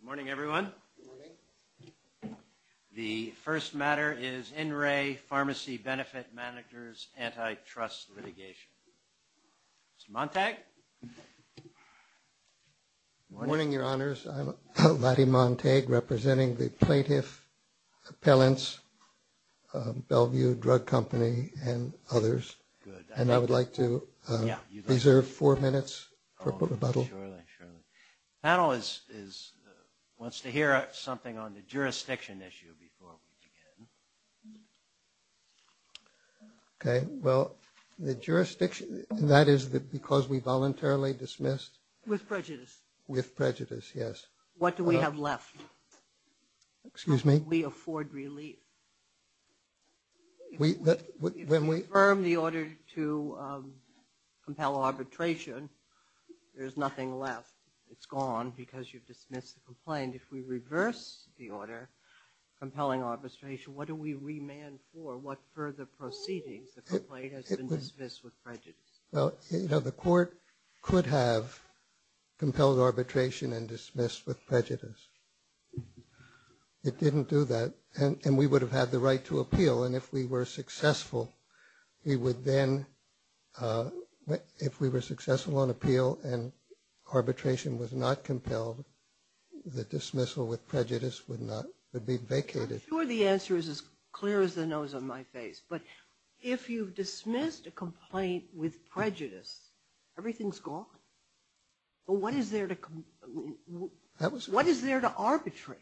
Good morning, everyone. The first matter is In Re Pharmacy Benefit Managers Antitrust Litigation. Mr. Montag. Good morning, Your Honors. I'm Lottie Montag, representing the Plaintiff Appellants, Bellevue Drug Company, and others, and I have four minutes for rebuttal. The panel wants to hear something on the jurisdiction issue before we begin. Okay, well, the jurisdiction, that is because we voluntarily dismissed. With prejudice. With prejudice, yes. What do we have left? Excuse me? How do we afford relief? If we affirm the order to compel arbitration, there's nothing left. It's gone because you've dismissed the complaint. If we reverse the order, compelling arbitration, what do we remand for? What further proceedings? The complaint has been dismissed with prejudice. Well, you know, the court could have compelled arbitration and dismissed with prejudice. It didn't do that, and we would have had the right to appeal, and if we were successful, we would then, if we were successful on appeal and arbitration was not compelled, the dismissal with prejudice would be vacated. I'm sure the answer is as clear as the nose on my face, but if you've dismissed a complaint with prejudice, everything's gone. What is there to arbitrate?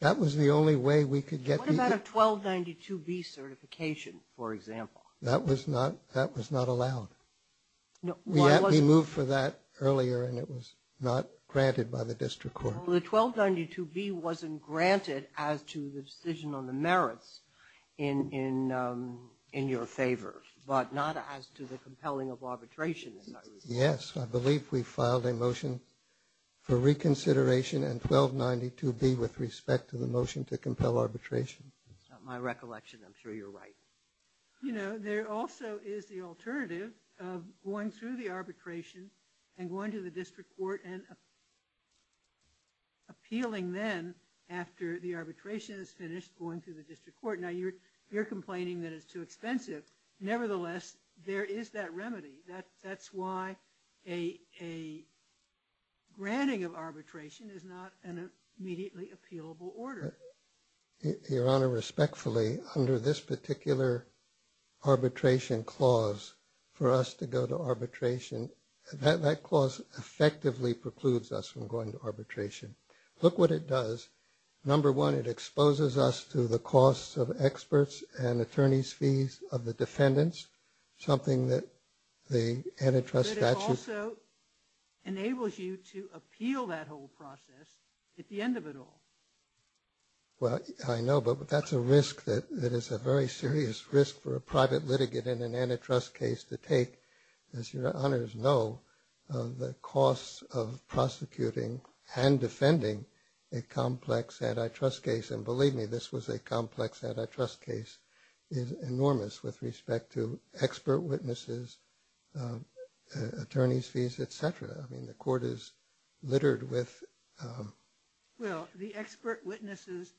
That was the only way we could get. What about a 1292B certification, for example? That was not allowed. We moved for that earlier, and it was not granted by the district court. Well, the 1292B wasn't granted as to the decision on the merits in your favor, but not as to the compelling of arbitration. Yes, I believe we filed a motion for reconsideration and 1292B with respect to the motion to compel arbitration. That's not my recollection. I'm sure you're right. You know, there also is the alternative of going through the arbitration and going to the district court and appealing then after the arbitration is finished, going to the district court. Now, you're complaining that it's too expensive. Nevertheless, there is that remedy. That's why a granting of arbitration is not an immediately appealable order. Your Honor, respectfully, under this particular arbitration clause, for us to go to arbitration, that clause effectively precludes us from going to arbitration. Look what it does. Number one, it exposes us to the costs of experts and attorneys' fees of the defendants, something that the antitrust statute... But it also enables you to appeal that whole process at the end of it all. Well, I know, but that's a risk that is a very serious risk for a private litigant in an antitrust case to take. As your honors know, the costs of prosecuting and defending a complex antitrust case, and believe me, this was a complex antitrust case, is enormous with respect to expert witnesses, attorneys fees, etc. I mean, the court is littered with... Well, the expert witnesses,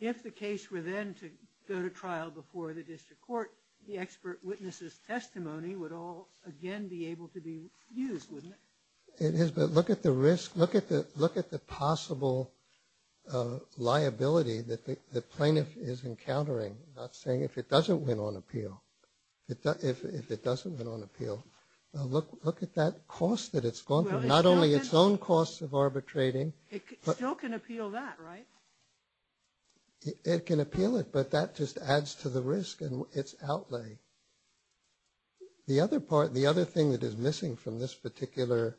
if the case were then to go to trial before the district court, the expert witnesses' testimony would all again be able to be used, wouldn't it? It is, but look at the risk. Look at the possible liability that the plaintiff is encountering. I'm not saying if it doesn't win on appeal. If it doesn't win on appeal, look at that cost that it's gone through, not only its own costs of arbitrating... It still can appeal that, right? It can appeal it, but that just adds to the risk and its outlay. The other part, the other thing that is missing from this particular,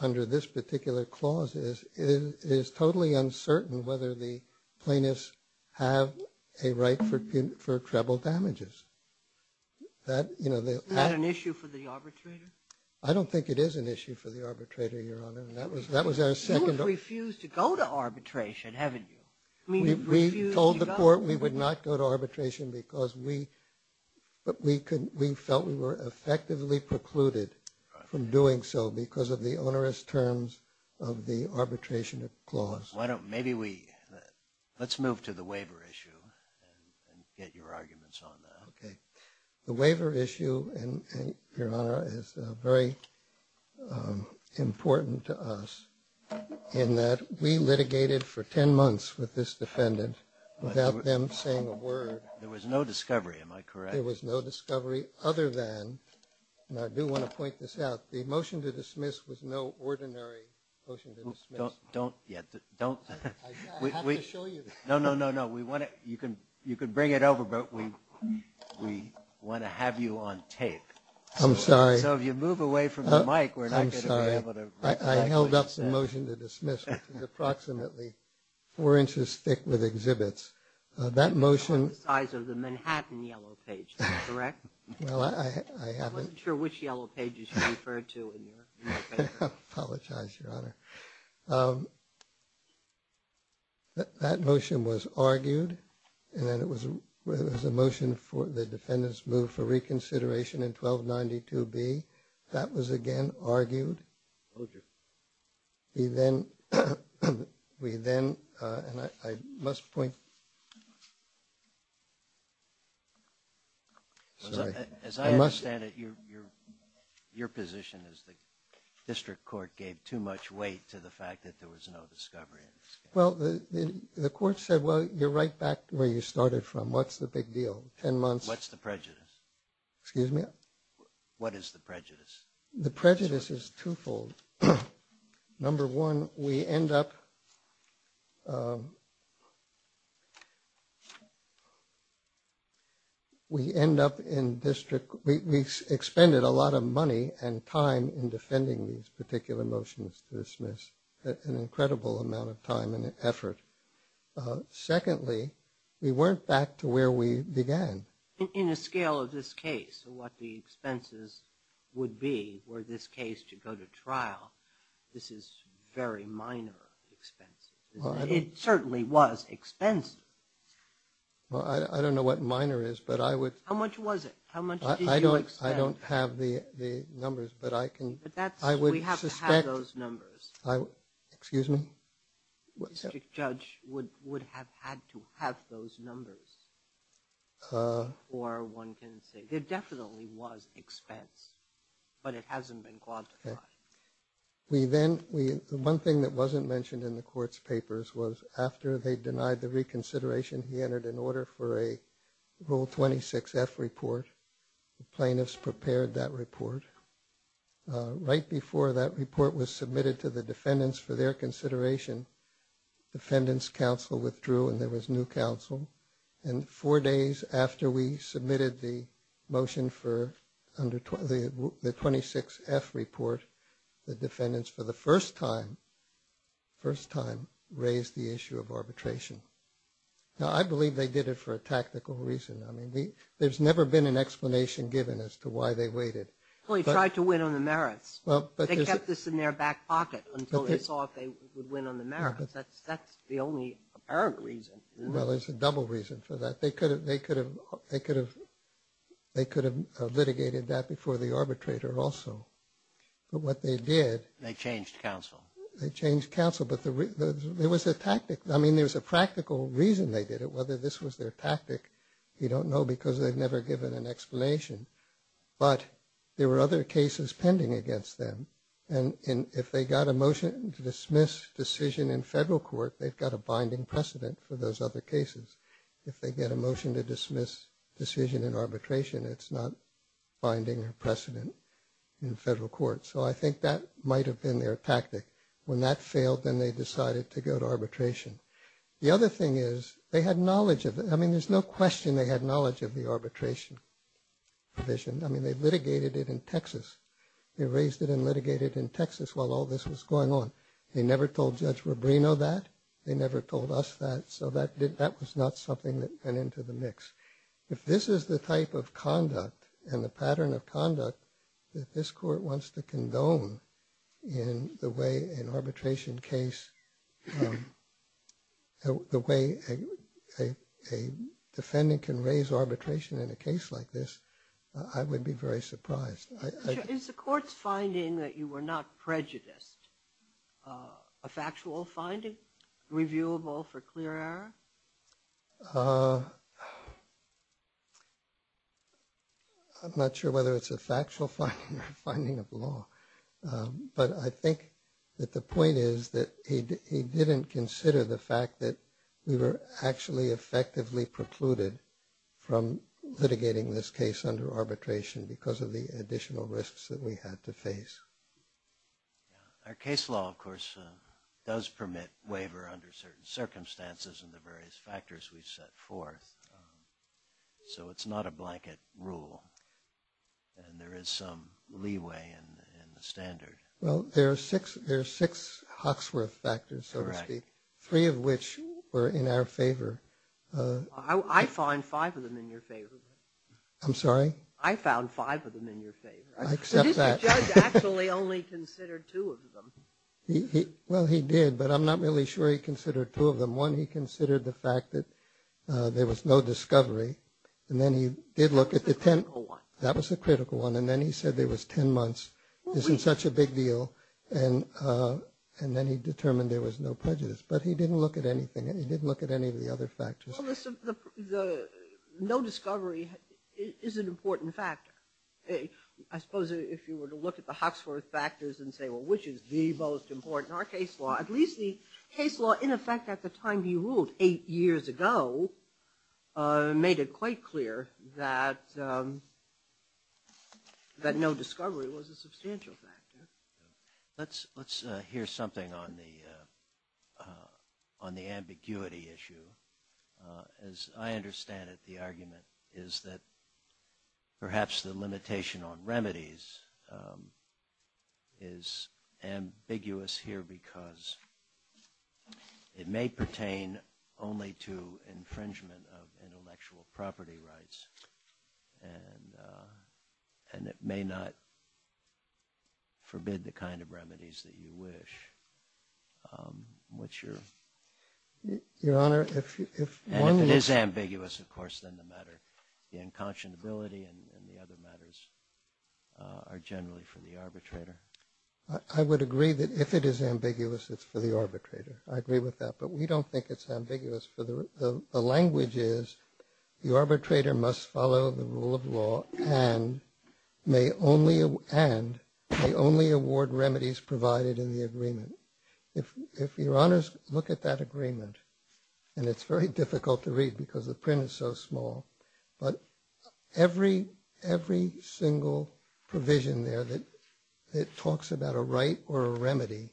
under this particular clause, is it is totally uncertain whether the plaintiffs have a right for treble damages. That, you know... Is that an issue for the arbitrator? I don't think it is an issue for the arbitrator, Your Honor, and that was our second... You have refused to go to arbitration, haven't you? We told the court we would not go to arbitration because we felt we were effectively precluded from doing so because of the onerous terms of the arbitration clause. Why don't, maybe we, let's move to the waiver issue and get your arguments on that. The waiver issue, Your Honor, is very important to us in that we litigated for 10 months with this defendant without them saying a word. There was no discovery, am I correct? There was no discovery other than, and I do want to point this out, the motion to dismiss was no ordinary motion to dismiss. Don't, yeah, don't... I have to show you. No, no, no, no, we want to, you can bring it over, but we want to have you on tape. I'm sorry. So if you move away from the mic, we're not going to be able to... I held up the motion to dismiss, which is approximately four inches thick with exhibits. That motion... Size of the Manhattan Yellow Page, is that correct? Well, I haven't... I wasn't sure which Yellow Pages you referred to in your paper. I apologize, Your Honor. That motion was argued, and then it was a motion for the defendant's move for reconsideration in 1292B. That was, again, argued. Okay. We then, we then, and I must point, sorry. As I understand it, your position is the district court gave too much weight to the fact that there was no discovery. Well, the court said, well, you're right back to where you started from. What's the big deal? Ten months... What's the prejudice? Excuse me? What is the prejudice? The prejudice is twofold. Number one, we end up... We end up in district... We expended a lot of money and time in defending these particular motions to dismiss, an incredible amount of time and effort. Secondly, we weren't back to where we began. In a scale of this case, what the expenses would be were this case to go to trial, this is very minor expenses. It certainly was expensive. Well, I don't know what minor is, but I would... How much was it? How much did you expend? I don't have the numbers, but I can... But that's... I would suspect... We have to have those numbers. Excuse me? The district judge would have had to have those numbers, or one can say... There definitely was expense, but it hasn't been quantified. We then... The one thing that wasn't mentioned in the court's papers was after they denied the reconsideration, he entered an order for a Rule 26F report. Plaintiffs prepared that report. Right before that report was submitted to the defendants for their consideration, defendants' counsel withdrew and there was new counsel. And four days after we submitted the motion for the 26F report, the defendants, for the first time, raised the issue of arbitration. Now, I believe they did it for a tactical reason. I mean, there's never been an explanation given as to why they waited. Well, he tried to win on the merits. They kept this in their back pocket until they saw if they would win on the merits. That's the only apparent reason. Well, there's a double reason for that. They could have litigated that before the arbitrator also. But what they did... They changed counsel. They changed counsel, but there was a tactic. I mean, there was a practical reason they did it. Whether this was their tactic, you don't know because they've never given an explanation. But there were other cases pending against them. And if they got a motion to dismiss decision in federal court, they've got a binding precedent for those other cases. If they get a motion to dismiss decision in arbitration, it's not binding precedent in federal court. So I think that might have been their tactic. When that failed, then they decided to go to arbitration. The other thing is they had knowledge of it. I mean, there's no question they had knowledge of the arbitration provision. I mean, they litigated it in Texas. They raised it and litigated it in Texas while all this was going on. They never told Judge Rubrino that. They never told us that. So that was not something that went into the mix. If this is the type of conduct and the pattern of conduct that this court wants to condone in the way an arbitration case, the way a defendant can raise arbitration in a case like this, I would be very surprised. Is the court's finding that you were not prejudiced a factual finding, reviewable for clear error? I'm not sure whether it's a factual finding or a finding of law. But I think that the point is that he didn't consider the fact that we were actually effectively precluded from litigating this case under arbitration because of the additional risks that we had to face. Our case law, of course, does permit waiver under certain circumstances and the various factors we've set forth. So it's not a blanket rule. And there is some leeway in the standard. Well, there are six Hawksworth factors, so to speak, three of which were in our favor. I find five of them in your favor. I'm sorry? I found five of them in your favor. I accept that. This judge actually only considered two of them. Well, he did, but I'm not really sure he considered two of them. One, he considered the fact that there was no discovery. And then he did look at the tenth. That was the critical one. And then he said there was ten months. This is such a big deal. And then he determined there was no prejudice. But he didn't look at anything. He didn't look at any of the other factors. Well, no discovery is an important factor. I suppose if you were to look at the Hawksworth factors and say, well, which is the most important? Our case law, at least the case law, in effect, at the time he ruled, eight years ago, made it quite clear that no discovery was a substantial factor. Let's hear something on the ambiguity issue. As I understand it, the argument is that perhaps the limitation on may pertain only to infringement of intellectual property rights. And it may not forbid the kind of remedies that you wish. What's your? Your Honor, if one is ambiguous, of course, then the matter, the unconscionability and the other matters are generally for the arbitrator. I would agree that if it is ambiguous, it's for the arbitrator. I agree with that. But we don't think it's ambiguous. The language is the arbitrator must follow the rule of law and may only award remedies provided in the agreement. If your Honors look at that agreement, and it's very difficult to read because the print is so small, but every single provision there that talks about a right or a remedy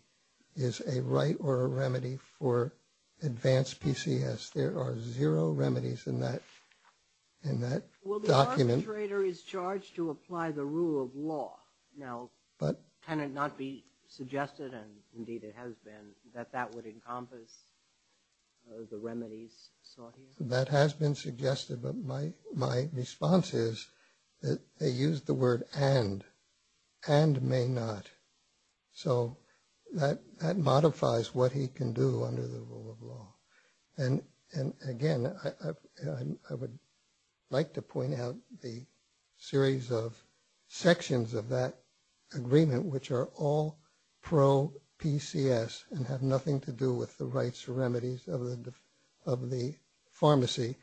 is a right or a remedy for advanced PCS. There are zero remedies in that document. Well, the arbitrator is charged to apply the rule of law. Now, can it not be suggested, and indeed it has been, that that would encompass the remedies sought here? That has been suggested, but my response is that they use the word and. And may not. So that modifies what he can do under the rule of law. And again, I would like to point out the series of sections of that agreement which are all pro-PCS and have nothing to do with the rights or remedies of the pharmacy.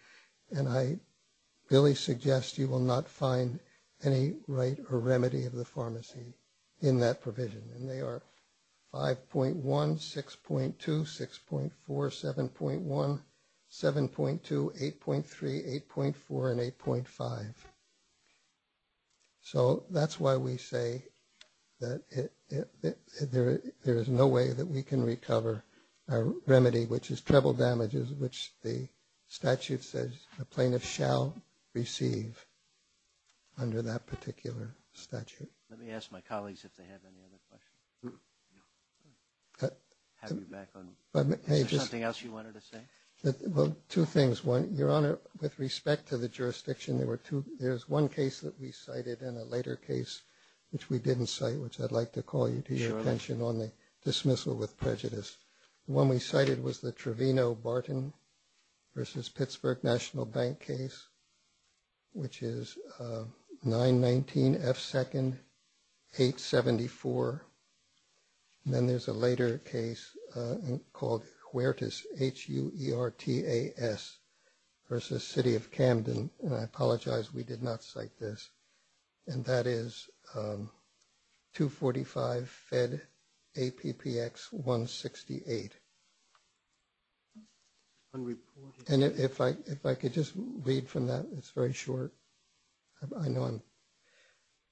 And I really suggest you will not find any right or remedy of the pharmacy in that provision. And they are 5.1, 6.2, 6.4, 7.1, 7.2, 8.3, 8.4, and 8.5. So that's why we say that there is no way that we can recover our remedy, which is treble damages, which the statute says the plaintiff shall receive under that particular statute. Let me ask my colleagues if they have any other questions. Have you back on. Is there something else you wanted to say? Well, two things. One, Your Honor, with respect to the jurisdiction, there's one case that we cited and a later case which we didn't cite, which I'd like to call you to your attention on the dismissal with prejudice. The one we cited was the Trevino-Barton versus Pittsburgh National Bank case, which is 919F2nd874. And then there's a later case called Huertas, H-U-E-R-T-A-S, versus City of Camden. And I apologize, we did not cite this. And that is 245FedAPPX168. And if I could just read from that, it's very short. I know I'm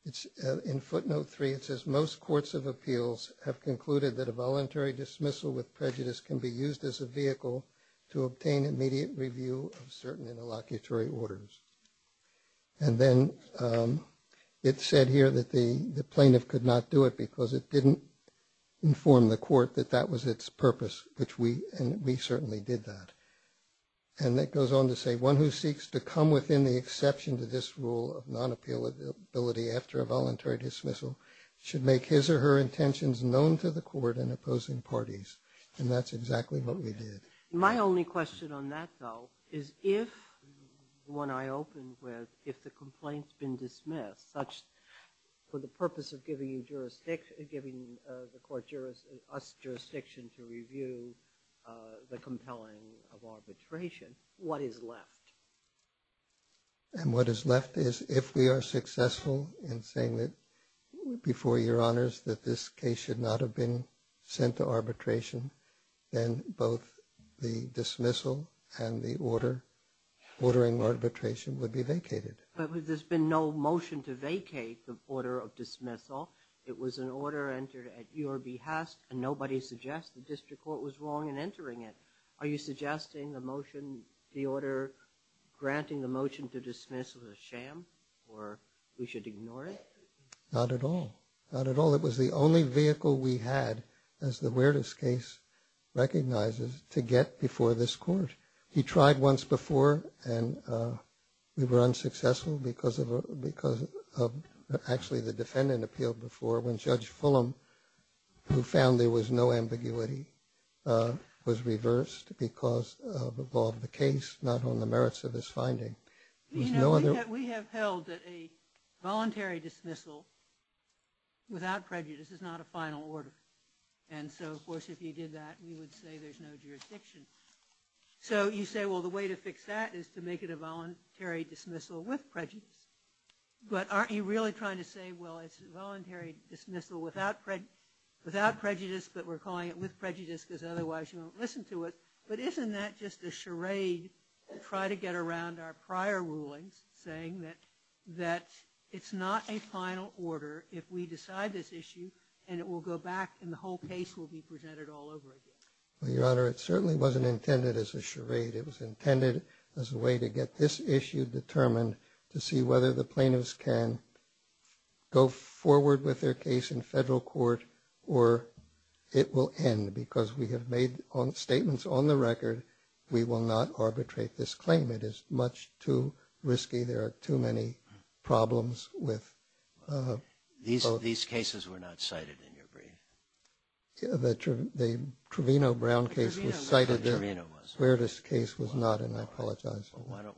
‑‑ in footnote three it says, most courts of appeals have concluded that a voluntary dismissal with prejudice can be used as a vehicle to obtain immediate review of certain interlocutory orders. And then it said here that the plaintiff could not do it because it didn't inform the court that that was its purpose, which we certainly did that. And it goes on to say, one who seeks to come within the exception to this rule of non‑appealability after a voluntary dismissal should make his or her intentions known to the court and opposing parties. And that's exactly what we did. My only question on that, though, is if, when I open with, if the complaint's been dismissed, such for the purpose of giving you jurisdiction, giving the court us jurisdiction to review the compelling of arbitration, what is left? And what is left is if we are successful in saying that, before your honors, that this case should not have been sent to arbitration, then both the dismissal and the order, ordering arbitration, would be vacated. But there's been no motion to vacate the order of dismissal. It was an order entered at your behest, and nobody suggests the district court was wrong in entering it. Are you suggesting the motion, the order granting the motion to dismiss was a sham or we should ignore it? Not at all. Not at all. It was the only vehicle we had, as the Weerdes case recognizes, to get before this court. He tried once before, and we were unsuccessful because of, actually the defendant appealed before when Judge Fulham, who found there was no ambiguity, was reversed because of the law of the case, not on the merits of his finding. We have held that a voluntary dismissal without prejudice is not a final order. And so, of course, if you did that, we would say there's no jurisdiction. So you say, well, the way to fix that is to make it a voluntary dismissal with prejudice. But aren't you really trying to say, well, it's a voluntary dismissal without prejudice, but we're calling it with prejudice because otherwise you won't listen to it. But isn't that just a charade to try to get around our prior rulings, saying that it's not a final order if we decide this issue and it will go back and the whole case will be presented all over again? Well, Your Honor, it certainly wasn't intended as a charade. It was intended as a way to get this issue determined to see whether the plaintiffs can go forward with their case in federal court or it will end, because we have made statements on the record we will not arbitrate this claim. It is much too risky. There are too many problems with both. These cases were not cited in your brief. The Trevino-Brown case was cited where this case was not, and I apologize. Well, why don't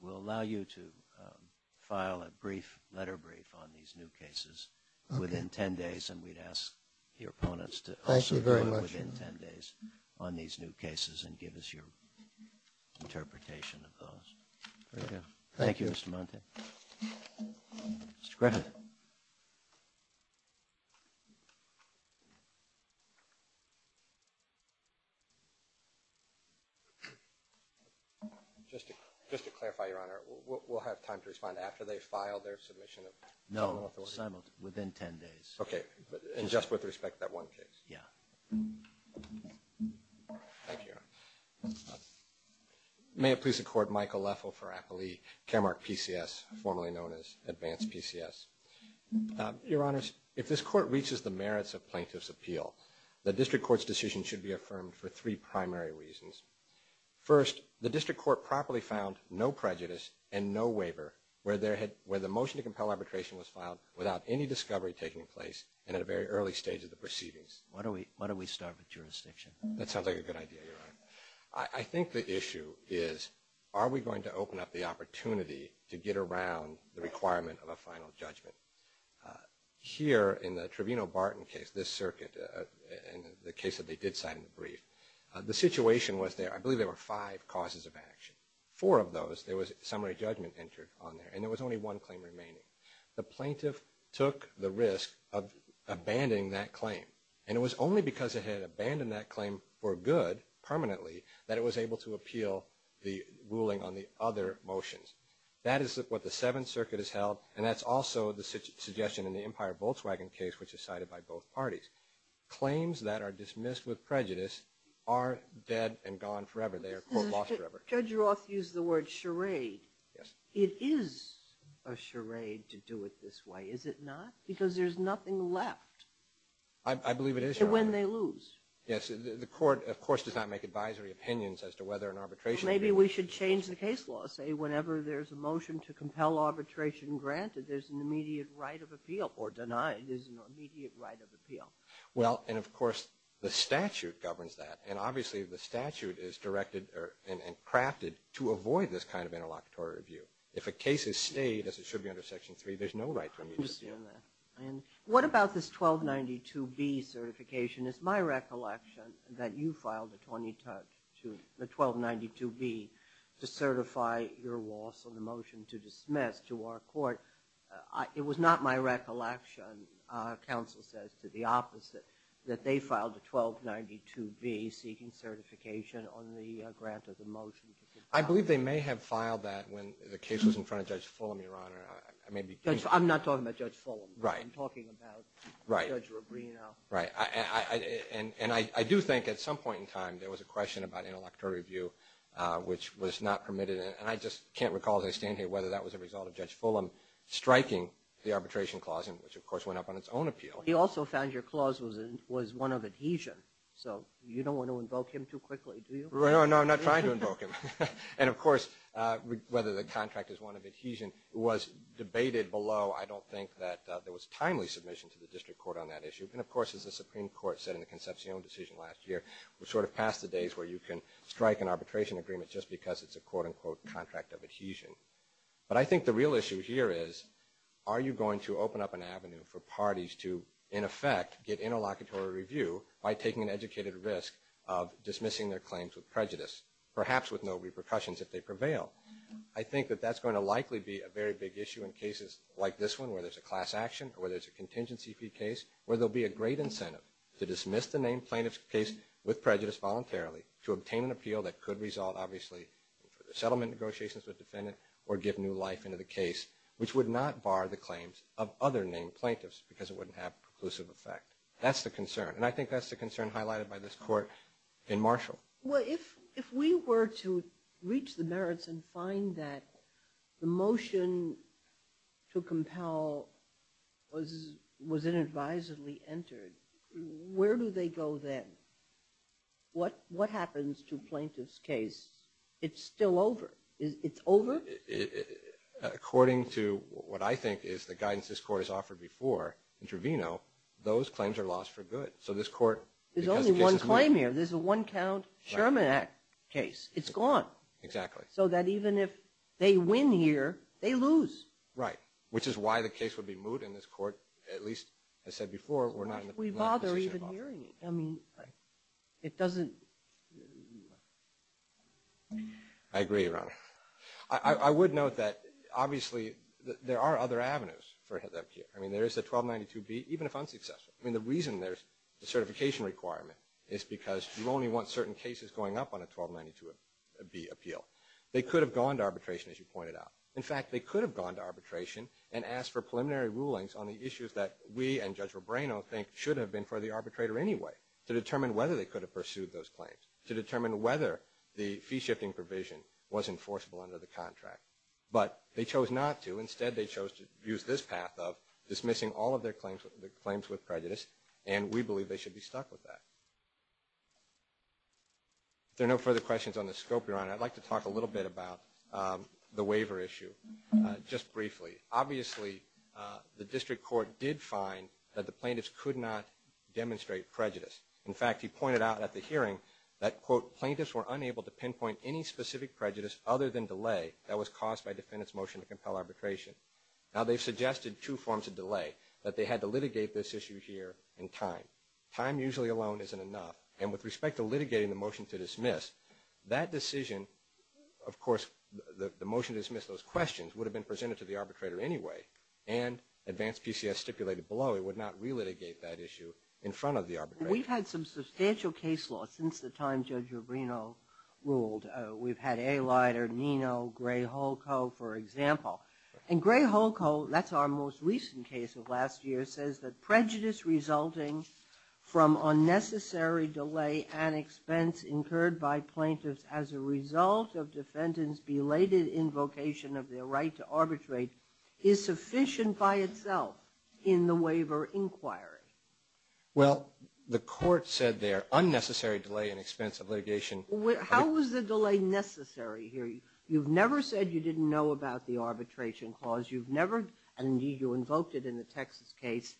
we allow you to file a brief letter brief on these new cases within 10 days, and we'd ask your opponents to also do it within 10 days on these new cases and give us your interpretation of those. Thank you. Thank you, Mr. Monti. Mr. Griffith. Just to clarify, Your Honor, we'll have time to respond. No, within 10 days. Okay. And just with respect to that one case. Yeah. Thank you, Your Honor. May it please the Court, Michael Leffel for Appley, Caremark PCS, formerly known as Advanced PCS. Your Honors, if this Court reaches the merits of plaintiff's appeal, the district court's decision should be affirmed for three primary reasons. First, the district court properly found no prejudice and no waiver, where the motion to compel arbitration was filed without any discovery taking place and at a very early stage of the proceedings. Why don't we start with jurisdiction? That sounds like a good idea, Your Honor. I think the issue is, are we going to open up the opportunity to get around the requirement of a final judgment? Here in the Trevino-Barton case, this circuit, and the case that they did cite in the brief, the situation was there. I believe there were five causes of action. Four of those, there was summary judgment entered on there, and there was only one claim remaining. The plaintiff took the risk of abandoning that claim, and it was only because it had abandoned that claim for good, permanently, that it was able to appeal the ruling on the other motions. That is what the Seventh Circuit has held, and that's also the suggestion in the Empire Volkswagen case, which is cited by both parties. Claims that are dismissed with prejudice are dead and gone forever. Judge Roth used the word charade. Yes. It is a charade to do it this way, is it not? Because there's nothing left. I believe it is, Your Honor. When they lose. Yes. The court, of course, does not make advisory opinions as to whether an arbitration can be made. Maybe we should change the case law, say, whenever there's a motion to compel arbitration granted, there's an immediate right of appeal, or denied. There's an immediate right of appeal. Well, and of course, the statute governs that, and obviously the statute is directed and crafted to avoid this kind of interlocutory review. If a case is stayed, as it should be under Section 3, there's no right to immediate review. What about this 1292B certification? It's my recollection that you filed a 1292B to certify your loss on the motion to dismiss to our court. It was not my recollection, counsel says, to the opposite, that they filed a 1292B seeking certification on the grant of the motion. I believe they may have filed that when the case was in front of Judge Fulham, Your Honor. I'm not talking about Judge Fulham. Right. I'm talking about Judge Rubino. Right. And I do think, at some point in time, there was a question about interlocutory review, which was not permitted. And I just can't recall, as I stand here, whether that was a result of Judge Fulham striking the arbitration clause, which, of course, went up on its own appeal. He also found your clause was one of adhesion. So you don't want to invoke him too quickly, do you? No, I'm not trying to invoke him. And, of course, whether the contract is one of adhesion was debated below. I don't think that there was timely submission to the district court on that issue. And, of course, as the Supreme Court said in the Concepcion decision last year, we're sort of past the days where you can strike an arbitration agreement just because it's a quote, unquote, contract of adhesion. But I think the real issue here is, are you going to open up an avenue for parties to, in effect, get interlocutory review by taking an educated risk of dismissing their claims with prejudice, perhaps with no repercussions if they prevail? I think that that's going to likely be a very big issue in cases like this one, where there's a class action or there's a contingency fee case, where there will be a great incentive to dismiss the named plaintiff's case with prejudice voluntarily to obtain an appeal that could result, obviously, in settlement negotiations with the defendant or give new life into the case, which would not bar the claims of other named plaintiffs because it wouldn't have preclusive effect. That's the concern. And I think that's the concern highlighted by this court in Marshall. Well, if we were to reach the merits and find that the motion to compel was inadvisably entered, where do they go then? What happens to plaintiff's case? It's still over. It's over? According to what I think is the guidance this court has offered before, in Trevino, those claims are lost for good. There's only one claim here. This is a one-count Sherman Act case. It's gone. Exactly. So that even if they win here, they lose. Right, which is why the case would be moved, and this court, at least as said before, we're not in the position of offering it. Why should we bother even hearing it? I mean, it doesn't... I agree, Your Honor. I would note that, obviously, there are other avenues for them here. I mean, there is a 1292B, even if unsuccessful. I mean, the reason there's a certification requirement is because you only want certain cases going up on a 1292B appeal. They could have gone to arbitration, as you pointed out. In fact, they could have gone to arbitration and asked for preliminary rulings on the issues that we and Judge Robreno think should have been for the arbitrator anyway to determine whether they could have pursued those claims, to determine whether the fee-shifting provision was enforceable under the contract. But they chose not to. Instead, they chose to use this path of dismissing all of their claims with prejudice, and we believe they should be stuck with that. If there are no further questions on the scope, Your Honor, I'd like to talk a little bit about the waiver issue, just briefly. Obviously, the district court did find that the plaintiffs could not demonstrate prejudice. In fact, he pointed out at the hearing that, quote, plaintiffs were unable to pinpoint any specific prejudice other than delay that was caused by defendant's motion to compel arbitration. Now, they've suggested two forms of delay, that they had to litigate this issue here in time. Time usually alone isn't enough. And with respect to litigating the motion to dismiss, that decision, of course, the motion to dismiss those questions would have been presented to the arbitrator anyway, and advanced PCS stipulated below it would not relitigate that issue in front of the arbitrator. We've had some substantial case laws since the time Judge Rubino ruled. We've had Alighter, Nino, Gray-Holko, for example. And Gray-Holko, that's our most recent case of last year, says that prejudice resulting from unnecessary delay and expense incurred by plaintiffs as a result of defendant's belated invocation of their right to arbitrate is sufficient by itself in the waiver inquiry. Well, the court said there, unnecessary delay and expense of litigation. How is the delay necessary here? You've never said you didn't know about the arbitration clause. You've never, and indeed you invoked it in the Texas case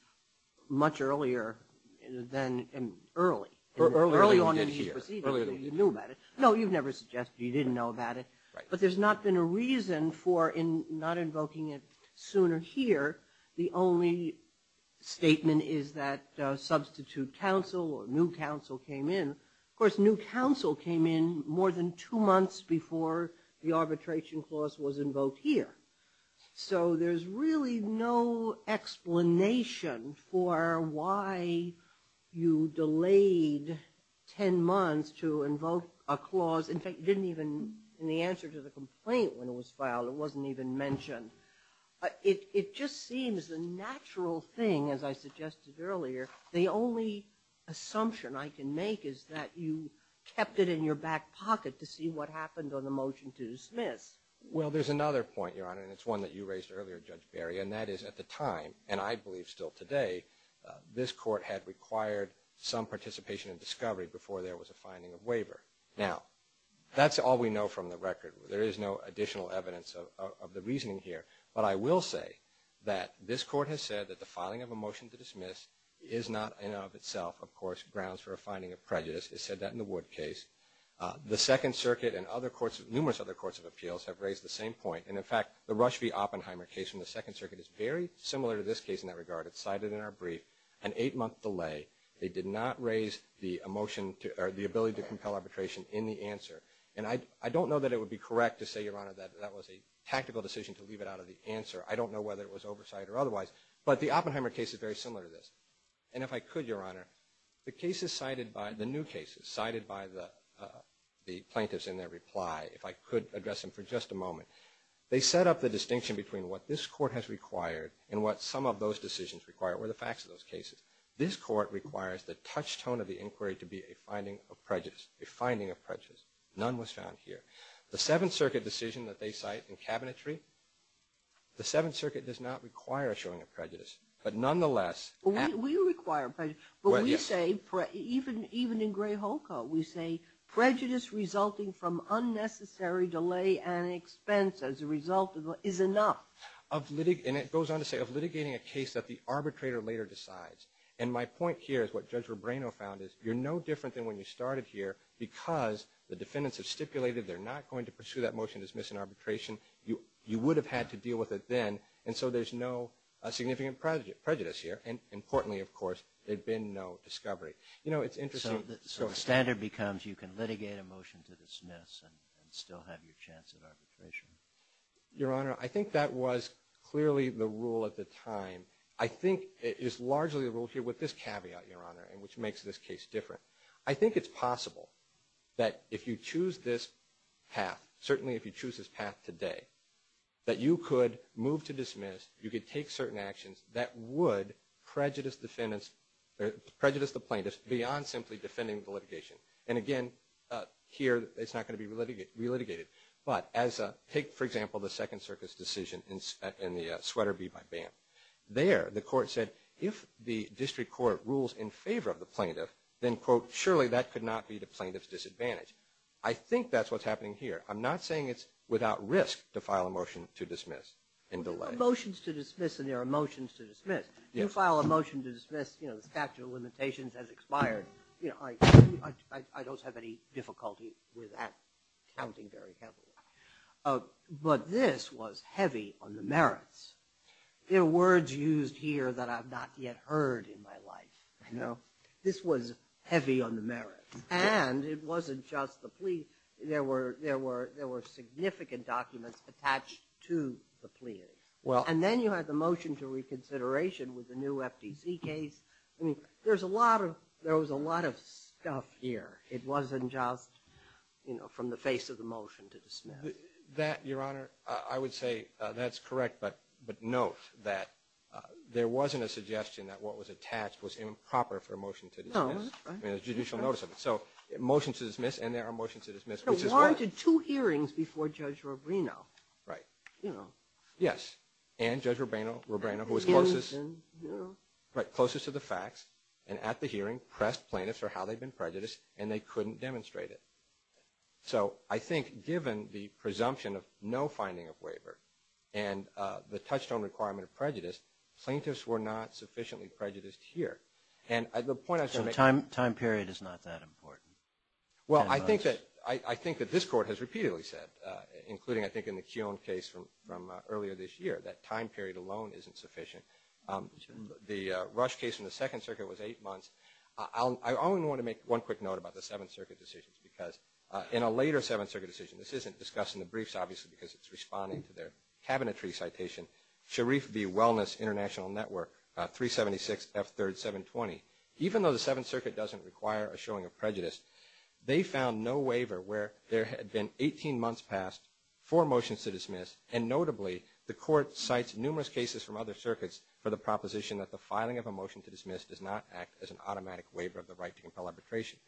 much earlier than early. Earlier than we did here. No, you've never suggested you didn't know about it. But there's not been a reason for not invoking it sooner here. The only statement is that substitute counsel or new counsel came in. Of course, new counsel came in more than two months before the arbitration clause was invoked here. So there's really no explanation for why you delayed ten months to invoke a clause. In fact, it didn't even, in the answer to the complaint when it was filed, it wasn't even mentioned. It just seems the natural thing, as I suggested earlier, the only assumption I can make is that you kept it in your back pocket to see what happened on the motion to dismiss. Well, there's another point, Your Honor, and it's one that you raised earlier, Judge Berry, and that is at the time, and I believe still today, this court had required some participation in discovery before there was a finding of waiver. Now, that's all we know from the record. There is no additional evidence of the reasoning here. But I will say that this court has said that the filing of a motion to dismiss is not, in and of itself, of course, grounds for a finding of prejudice. It said that in the Wood case. The Second Circuit and numerous other courts of appeals have raised the same point. And, in fact, the Rush v. Oppenheimer case from the Second Circuit is very similar to this case in that regard. It's cited in our brief, an eight-month delay. They did not raise the ability to compel arbitration in the answer. And I don't know that it would be correct to say, Your Honor, that that was a tactical decision to leave it out of the answer. I don't know whether it was oversight or otherwise. But the Oppenheimer case is very similar to this. And if I could, Your Honor, the new cases cited by the plaintiffs in their reply, if I could address them for just a moment, they set up the distinction between what this court has required and what some of those decisions require or the facts of those cases. This court requires the touchstone of the inquiry to be a finding of prejudice. A finding of prejudice. None was found here. The Seventh Circuit decision that they cite in cabinetry, the Seventh Circuit does not require a showing of prejudice. But nonetheless, We require prejudice. But we say, even in Gray-Hulka, we say, Prejudice resulting from unnecessary delay and expense as a result is enough. And it goes on to say, of litigating a case that the arbitrator later decides. And my point here is what Judge Rebrano found is, you're no different than when you started here because the defendants have stipulated they're not going to pursue that motion to dismiss in arbitration. You would have had to deal with it then. And so there's no significant prejudice here. And importantly, of course, there'd been no discovery. You know, it's interesting. So the standard becomes you can litigate a motion to dismiss and still have your chance at arbitration. Your Honor, I think that was clearly the rule at the time. I think it is largely the rule here with this caveat, Your Honor, which makes this case different. I think it's possible that if you choose this path, certainly if you choose this path today, that you could move to dismiss, you could take certain actions that would prejudice the plaintiffs beyond simply defending the litigation. And again, here it's not going to be relitigated. But take, for example, the Second Circus decision in the Sweater Bee by BAM. There the court said if the district court rules in favor of the plaintiff, then, quote, surely that could not be the plaintiff's disadvantage. I think that's what's happening here. I'm not saying it's without risk to file a motion to dismiss in delay. There are motions to dismiss and there are motions to dismiss. You file a motion to dismiss, you know, the statute of limitations has expired. I don't have any difficulty with that counting very heavily. But this was heavy on the merits. There are words used here that I've not yet heard in my life. This was heavy on the merits. And it wasn't just the plea. There were significant documents attached to the plea. And then you had the motion to reconsideration with the new FTC case. I mean, there was a lot of stuff here. It wasn't just, you know, from the face of the motion to dismiss. That, Your Honor, I would say that's correct. But note that there wasn't a suggestion that what was attached was improper for a motion to dismiss. No, that's right. I mean, there's judicial notice of it. So motions to dismiss and there are motions to dismiss. But why did two hearings before Judge Rubino? Right. You know. Yes. And Judge Rubino who was closest to the facts and at the hearing pressed plaintiffs for how they'd been prejudiced and they couldn't demonstrate it. So I think given the presumption of no finding of waiver and the touchstone requirement of prejudice, plaintiffs were not sufficiently prejudiced here. And the point I was going to make. So time period is not that important. Well, I think that this Court has repeatedly said, including I think in the Kiyon case from earlier this year, that time period alone isn't sufficient. The Rush case in the Second Circuit was eight months. I only want to make one quick note about the Seventh Circuit decisions because in a later Seventh Circuit decision, this isn't discussed in the briefs, obviously, because it's responding to their cabinetry citation, Sharif v. Wellness International Network, 376 F. 3rd 720. They found no waiver where there had been 18 months past for motions to dismiss and notably the Court cites numerous cases from other circuits for the proposition that the filing of a motion to dismiss does not act as an automatic waiver of the right to compel arbitration.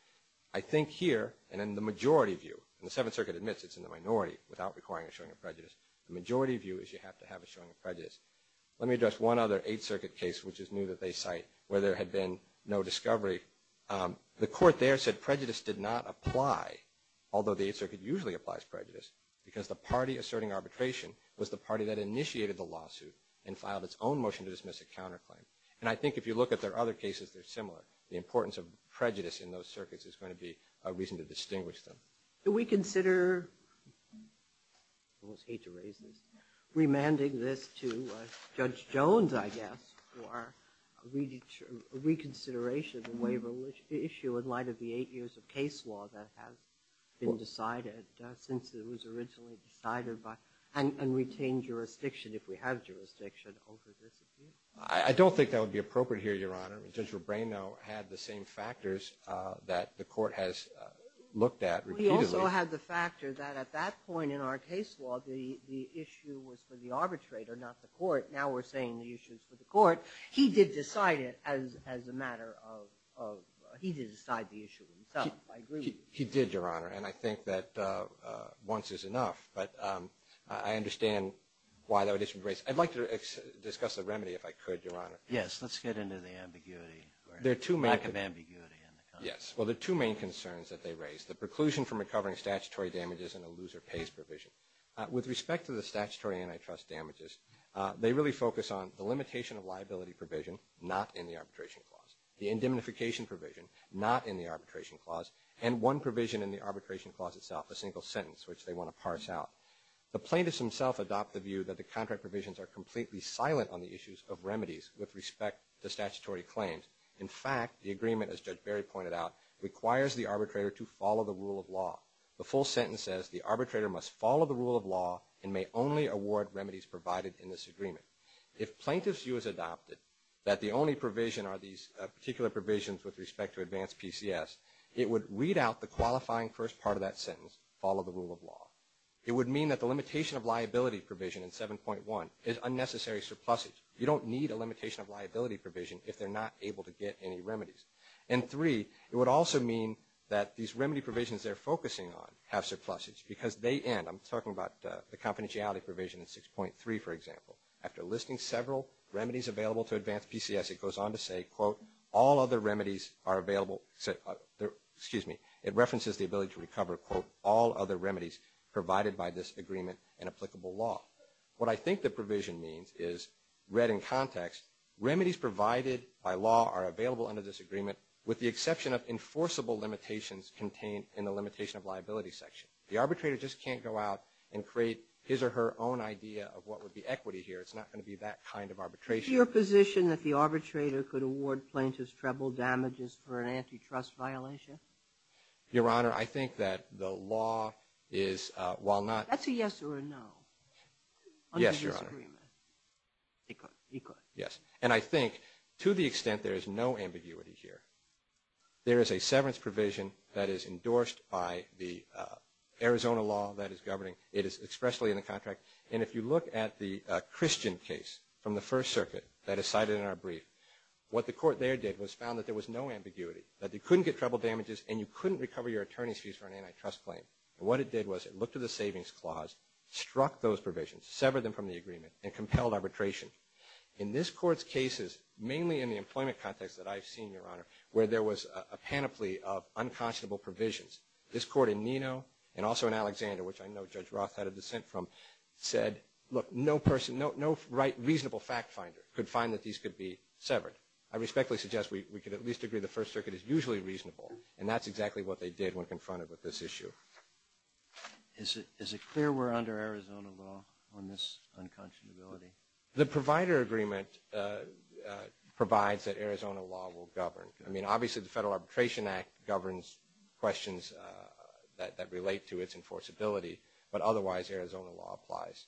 I think here and in the majority view, and the Seventh Circuit admits it's in the minority without requiring a showing of prejudice, the majority view is you have to have a showing of prejudice. Let me address one other Eighth Circuit case which is new that they cite where there had been no discovery. The Court there said prejudice did not apply, although the Eighth Circuit usually applies prejudice, because the party asserting arbitration was the party that initiated the lawsuit and filed its own motion to dismiss a counterclaim. And I think if you look at their other cases, they're similar. The importance of prejudice in those circuits is going to be a reason to distinguish them. Do we consider, I almost hate to raise this, remanding this to Judge Jones, I guess, for reconsideration of the waiver issue in light of the eight years of case law that has been decided since it was originally decided and retained jurisdiction, if we have jurisdiction over this? I don't think that would be appropriate here, Your Honor. Judge Rubino had the same factors that the Court has looked at repeatedly. Well, he also had the factor that at that point in our case law, the issue was for the arbitrator, not the Court. Now we're saying the issue is for the Court. He did decide it as a matter of – he did decide the issue himself, I agree with you. He did, Your Honor, and I think that once is enough. But I understand why that would be – I'd like to discuss the remedy, if I could, Your Honor. Yes, let's get into the ambiguity or lack of ambiguity in the context. Yes, well, the two main concerns that they raised, the preclusion from recovering statutory damages and a loser-pays provision. With respect to the statutory antitrust damages, they really focus on the limitation of liability provision not in the arbitration clause, the indemnification provision not in the arbitration clause, and one provision in the arbitration clause itself, a single sentence, which they want to parse out. The plaintiffs themselves adopt the view that the contract provisions are completely silent on the issues of remedies with respect to statutory claims. In fact, the agreement, as Judge Barry pointed out, requires the arbitrator to follow the rule of law. The full sentence says the arbitrator must follow the rule of law and may only award remedies provided in this agreement. If plaintiffs' view is adopted that the only provision are these particular provisions with respect to advanced PCS, it would read out the qualifying first part of that sentence, follow the rule of law. It would mean that the limitation of liability provision in 7.1 is unnecessary surpluses. You don't need a limitation of liability provision if they're not able to get any remedies. And three, it would also mean that these remedy provisions they're focusing on have surpluses because they end. I'm talking about the confidentiality provision in 6.3, for example. After listing several remedies available to advanced PCS, it goes on to say, quote, all other remedies are available, excuse me, it references the ability to recover, quote, all other remedies provided by this agreement and applicable law. What I think the provision means is read in context, remedies provided by law are available under this agreement with the exception of enforceable limitations contained in the limitation of liability section. The arbitrator just can't go out and create his or her own idea of what would be equity here. It's not going to be that kind of arbitration. Is it your position that the arbitrator could award plaintiff's treble damages for an antitrust violation? Your Honor, I think that the law is, while not. That's a yes or a no. Yes, Your Honor. He could, he could. Yes. And I think to the extent there is no ambiguity here, there is a severance provision that is endorsed by the Arizona law that is governing. It is expressly in the contract. And if you look at the Christian case from the First Circuit that is cited in our brief, what the court there did was found that there was no ambiguity, that you couldn't get treble damages and you couldn't recover your attorney's fees for an antitrust claim. And what it did was it looked at the savings clause, struck those provisions, severed them from the agreement, and compelled arbitration. In this court's cases, mainly in the employment context that I've seen, Your Honor, where there was a panoply of unconscionable provisions, this court in Neno and also in Alexander, which I know Judge Roth had a dissent from, said, look, no person, no reasonable fact finder could find that these could be severed. I respectfully suggest we could at least agree the First Circuit is usually reasonable, and that's exactly what they did when confronted with this issue. Is it clear we're under Arizona law on this unconscionability? The provider agreement provides that Arizona law will govern. I mean, obviously the Federal Arbitration Act governs questions that relate to its enforceability, but otherwise Arizona law applies.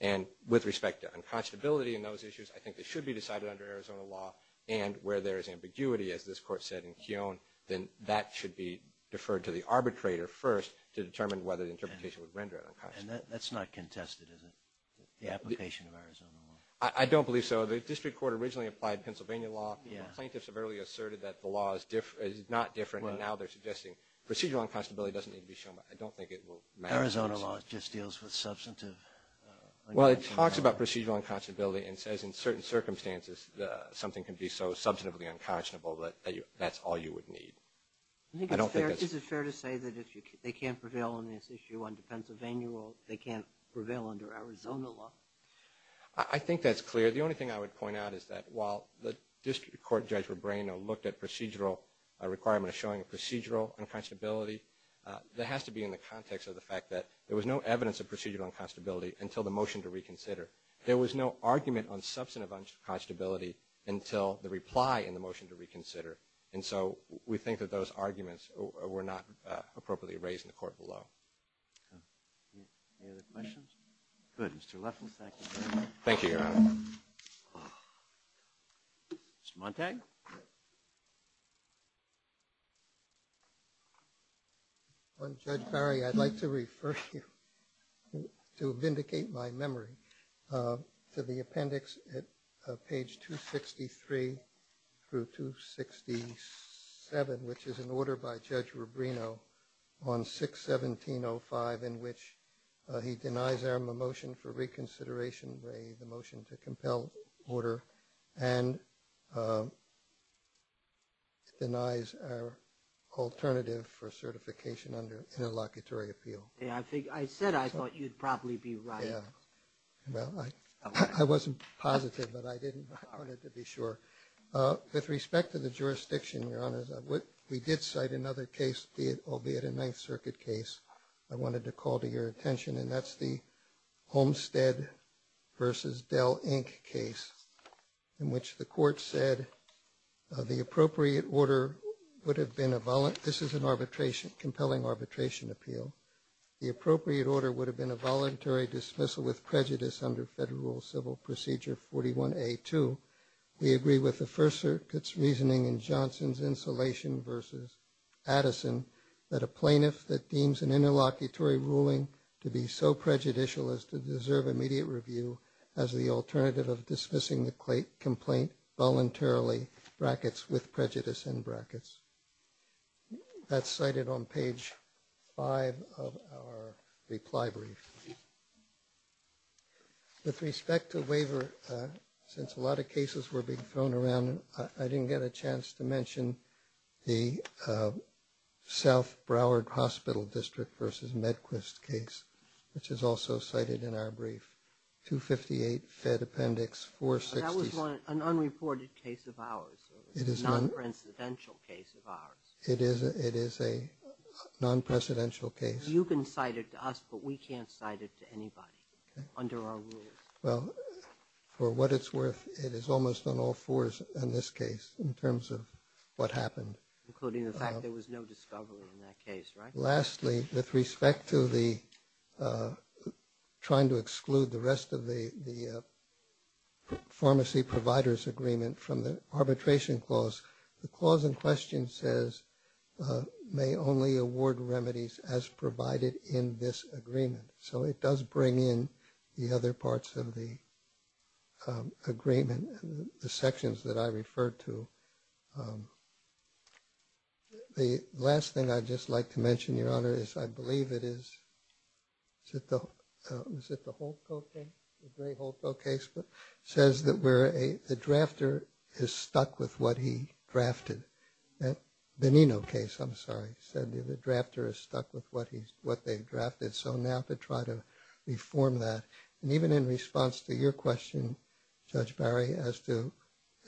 And with respect to unconscionability and those issues, I think they should be decided under Arizona law, and where there is ambiguity, as this court said in Keown, then that should be deferred to the arbitrator first to determine whether the interpretation would render it unconscionable. And that's not contested, is it, the application of Arizona law? I don't believe so. The district court originally applied Pennsylvania law. Plaintiffs have earlier asserted that the law is not different, and now they're suggesting procedural unconscionability doesn't need to be shown. I don't think it will matter. Arizona law just deals with substantive unconscionability. Well, it talks about procedural unconscionability and says in certain circumstances something can be so substantively unconscionable that that's all you would need. I think it's fair to say that if they can't prevail on this issue under Pennsylvania law, they can't prevail under Arizona law. I think that's clear. The only thing I would point out is that while the district court judge Rebrano looked at procedural requirement of showing procedural unconscionability, that has to be in the context of the fact that there was no evidence of procedural unconscionability until the motion to reconsider. There was no argument on substantive unconscionability until the reply in the motion to reconsider. And so we think that those arguments were not appropriately raised in the court below. Any other questions? Good. Mr. Leffenthal. Thank you, Your Honor. Thank you, Your Honor. Mr. Montague. Judge Barry, I'd like to refer you to vindicate my memory to the appendix at page 263 through 267, which is an order by Judge Rebrano on 6-1705 in which he denies our motion for reconsideration, the motion to compel order, and denies our alternative for certification under interlocutory appeal. I said I thought you'd probably be right. Well, I wasn't positive, but I wanted to be sure. With respect to the jurisdiction, Your Honor, we did cite another case, albeit a Ninth Circuit case, I wanted to call to your attention, and that's the Homestead v. Dell, Inc. case, in which the court said the appropriate order would have been a ‑‑ this is an arbitration, compelling arbitration appeal. The appropriate order would have been a voluntary dismissal with prejudice under Federal Civil Procedure 41A2. We agree with the First Circuit's reasoning in Johnson's insulation v. Addison that a plaintiff that deems an interlocutory ruling to be so prejudicial as to deserve immediate review has the alternative of dismissing the complaint voluntarily, brackets with prejudice in brackets. That's cited on page 5 of our reply brief. With respect to waiver, since a lot of cases were being thrown around, I didn't get a chance to mention the South Broward Hospital District v. Medquist case, which is also cited in our brief, 258 Fed Appendix 460. That was an unreported case of ours, a non-presidential case of ours. It is a non-presidential case. You can cite it to us, but we can't cite it to anybody under our rules. Well, for what it's worth, it is almost on all fours in this case in terms of what happened. Including the fact there was no discovery in that case, right? Lastly, with respect to the trying to exclude the rest of the pharmacy providers agreement from the arbitration clause, the clause in question says, may only award remedies as provided in this agreement. So it does bring in the other parts of the agreement, the sections that I referred to. The last thing I'd just like to mention, Your Honor, is I believe it is, is it the Holtco case, the Gray-Holtco case, says that the drafter is stuck with what he drafted. The Benino case, I'm sorry, said the drafter is stuck with what they drafted. So now to try to reform that. And even in response to your question, Judge Barry, as to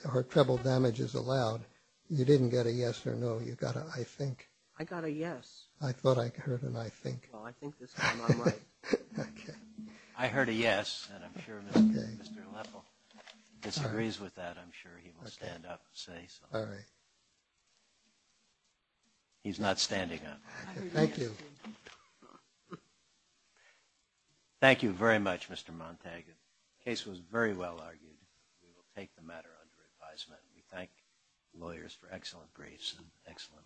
are treble damages allowed, you didn't get a yes or no. You got an I think. I got a yes. I thought I heard an I think. Well, I think this time I'm right. Okay. I heard a yes, and I'm sure Mr. Leffel disagrees with that. I'm sure he will stand up and say so. All right. He's not standing up. Thank you. Thank you very much, Mr. Montague. The case was very well argued. We will take the matter under advisement. We thank lawyers for excellent briefs and excellent arguments.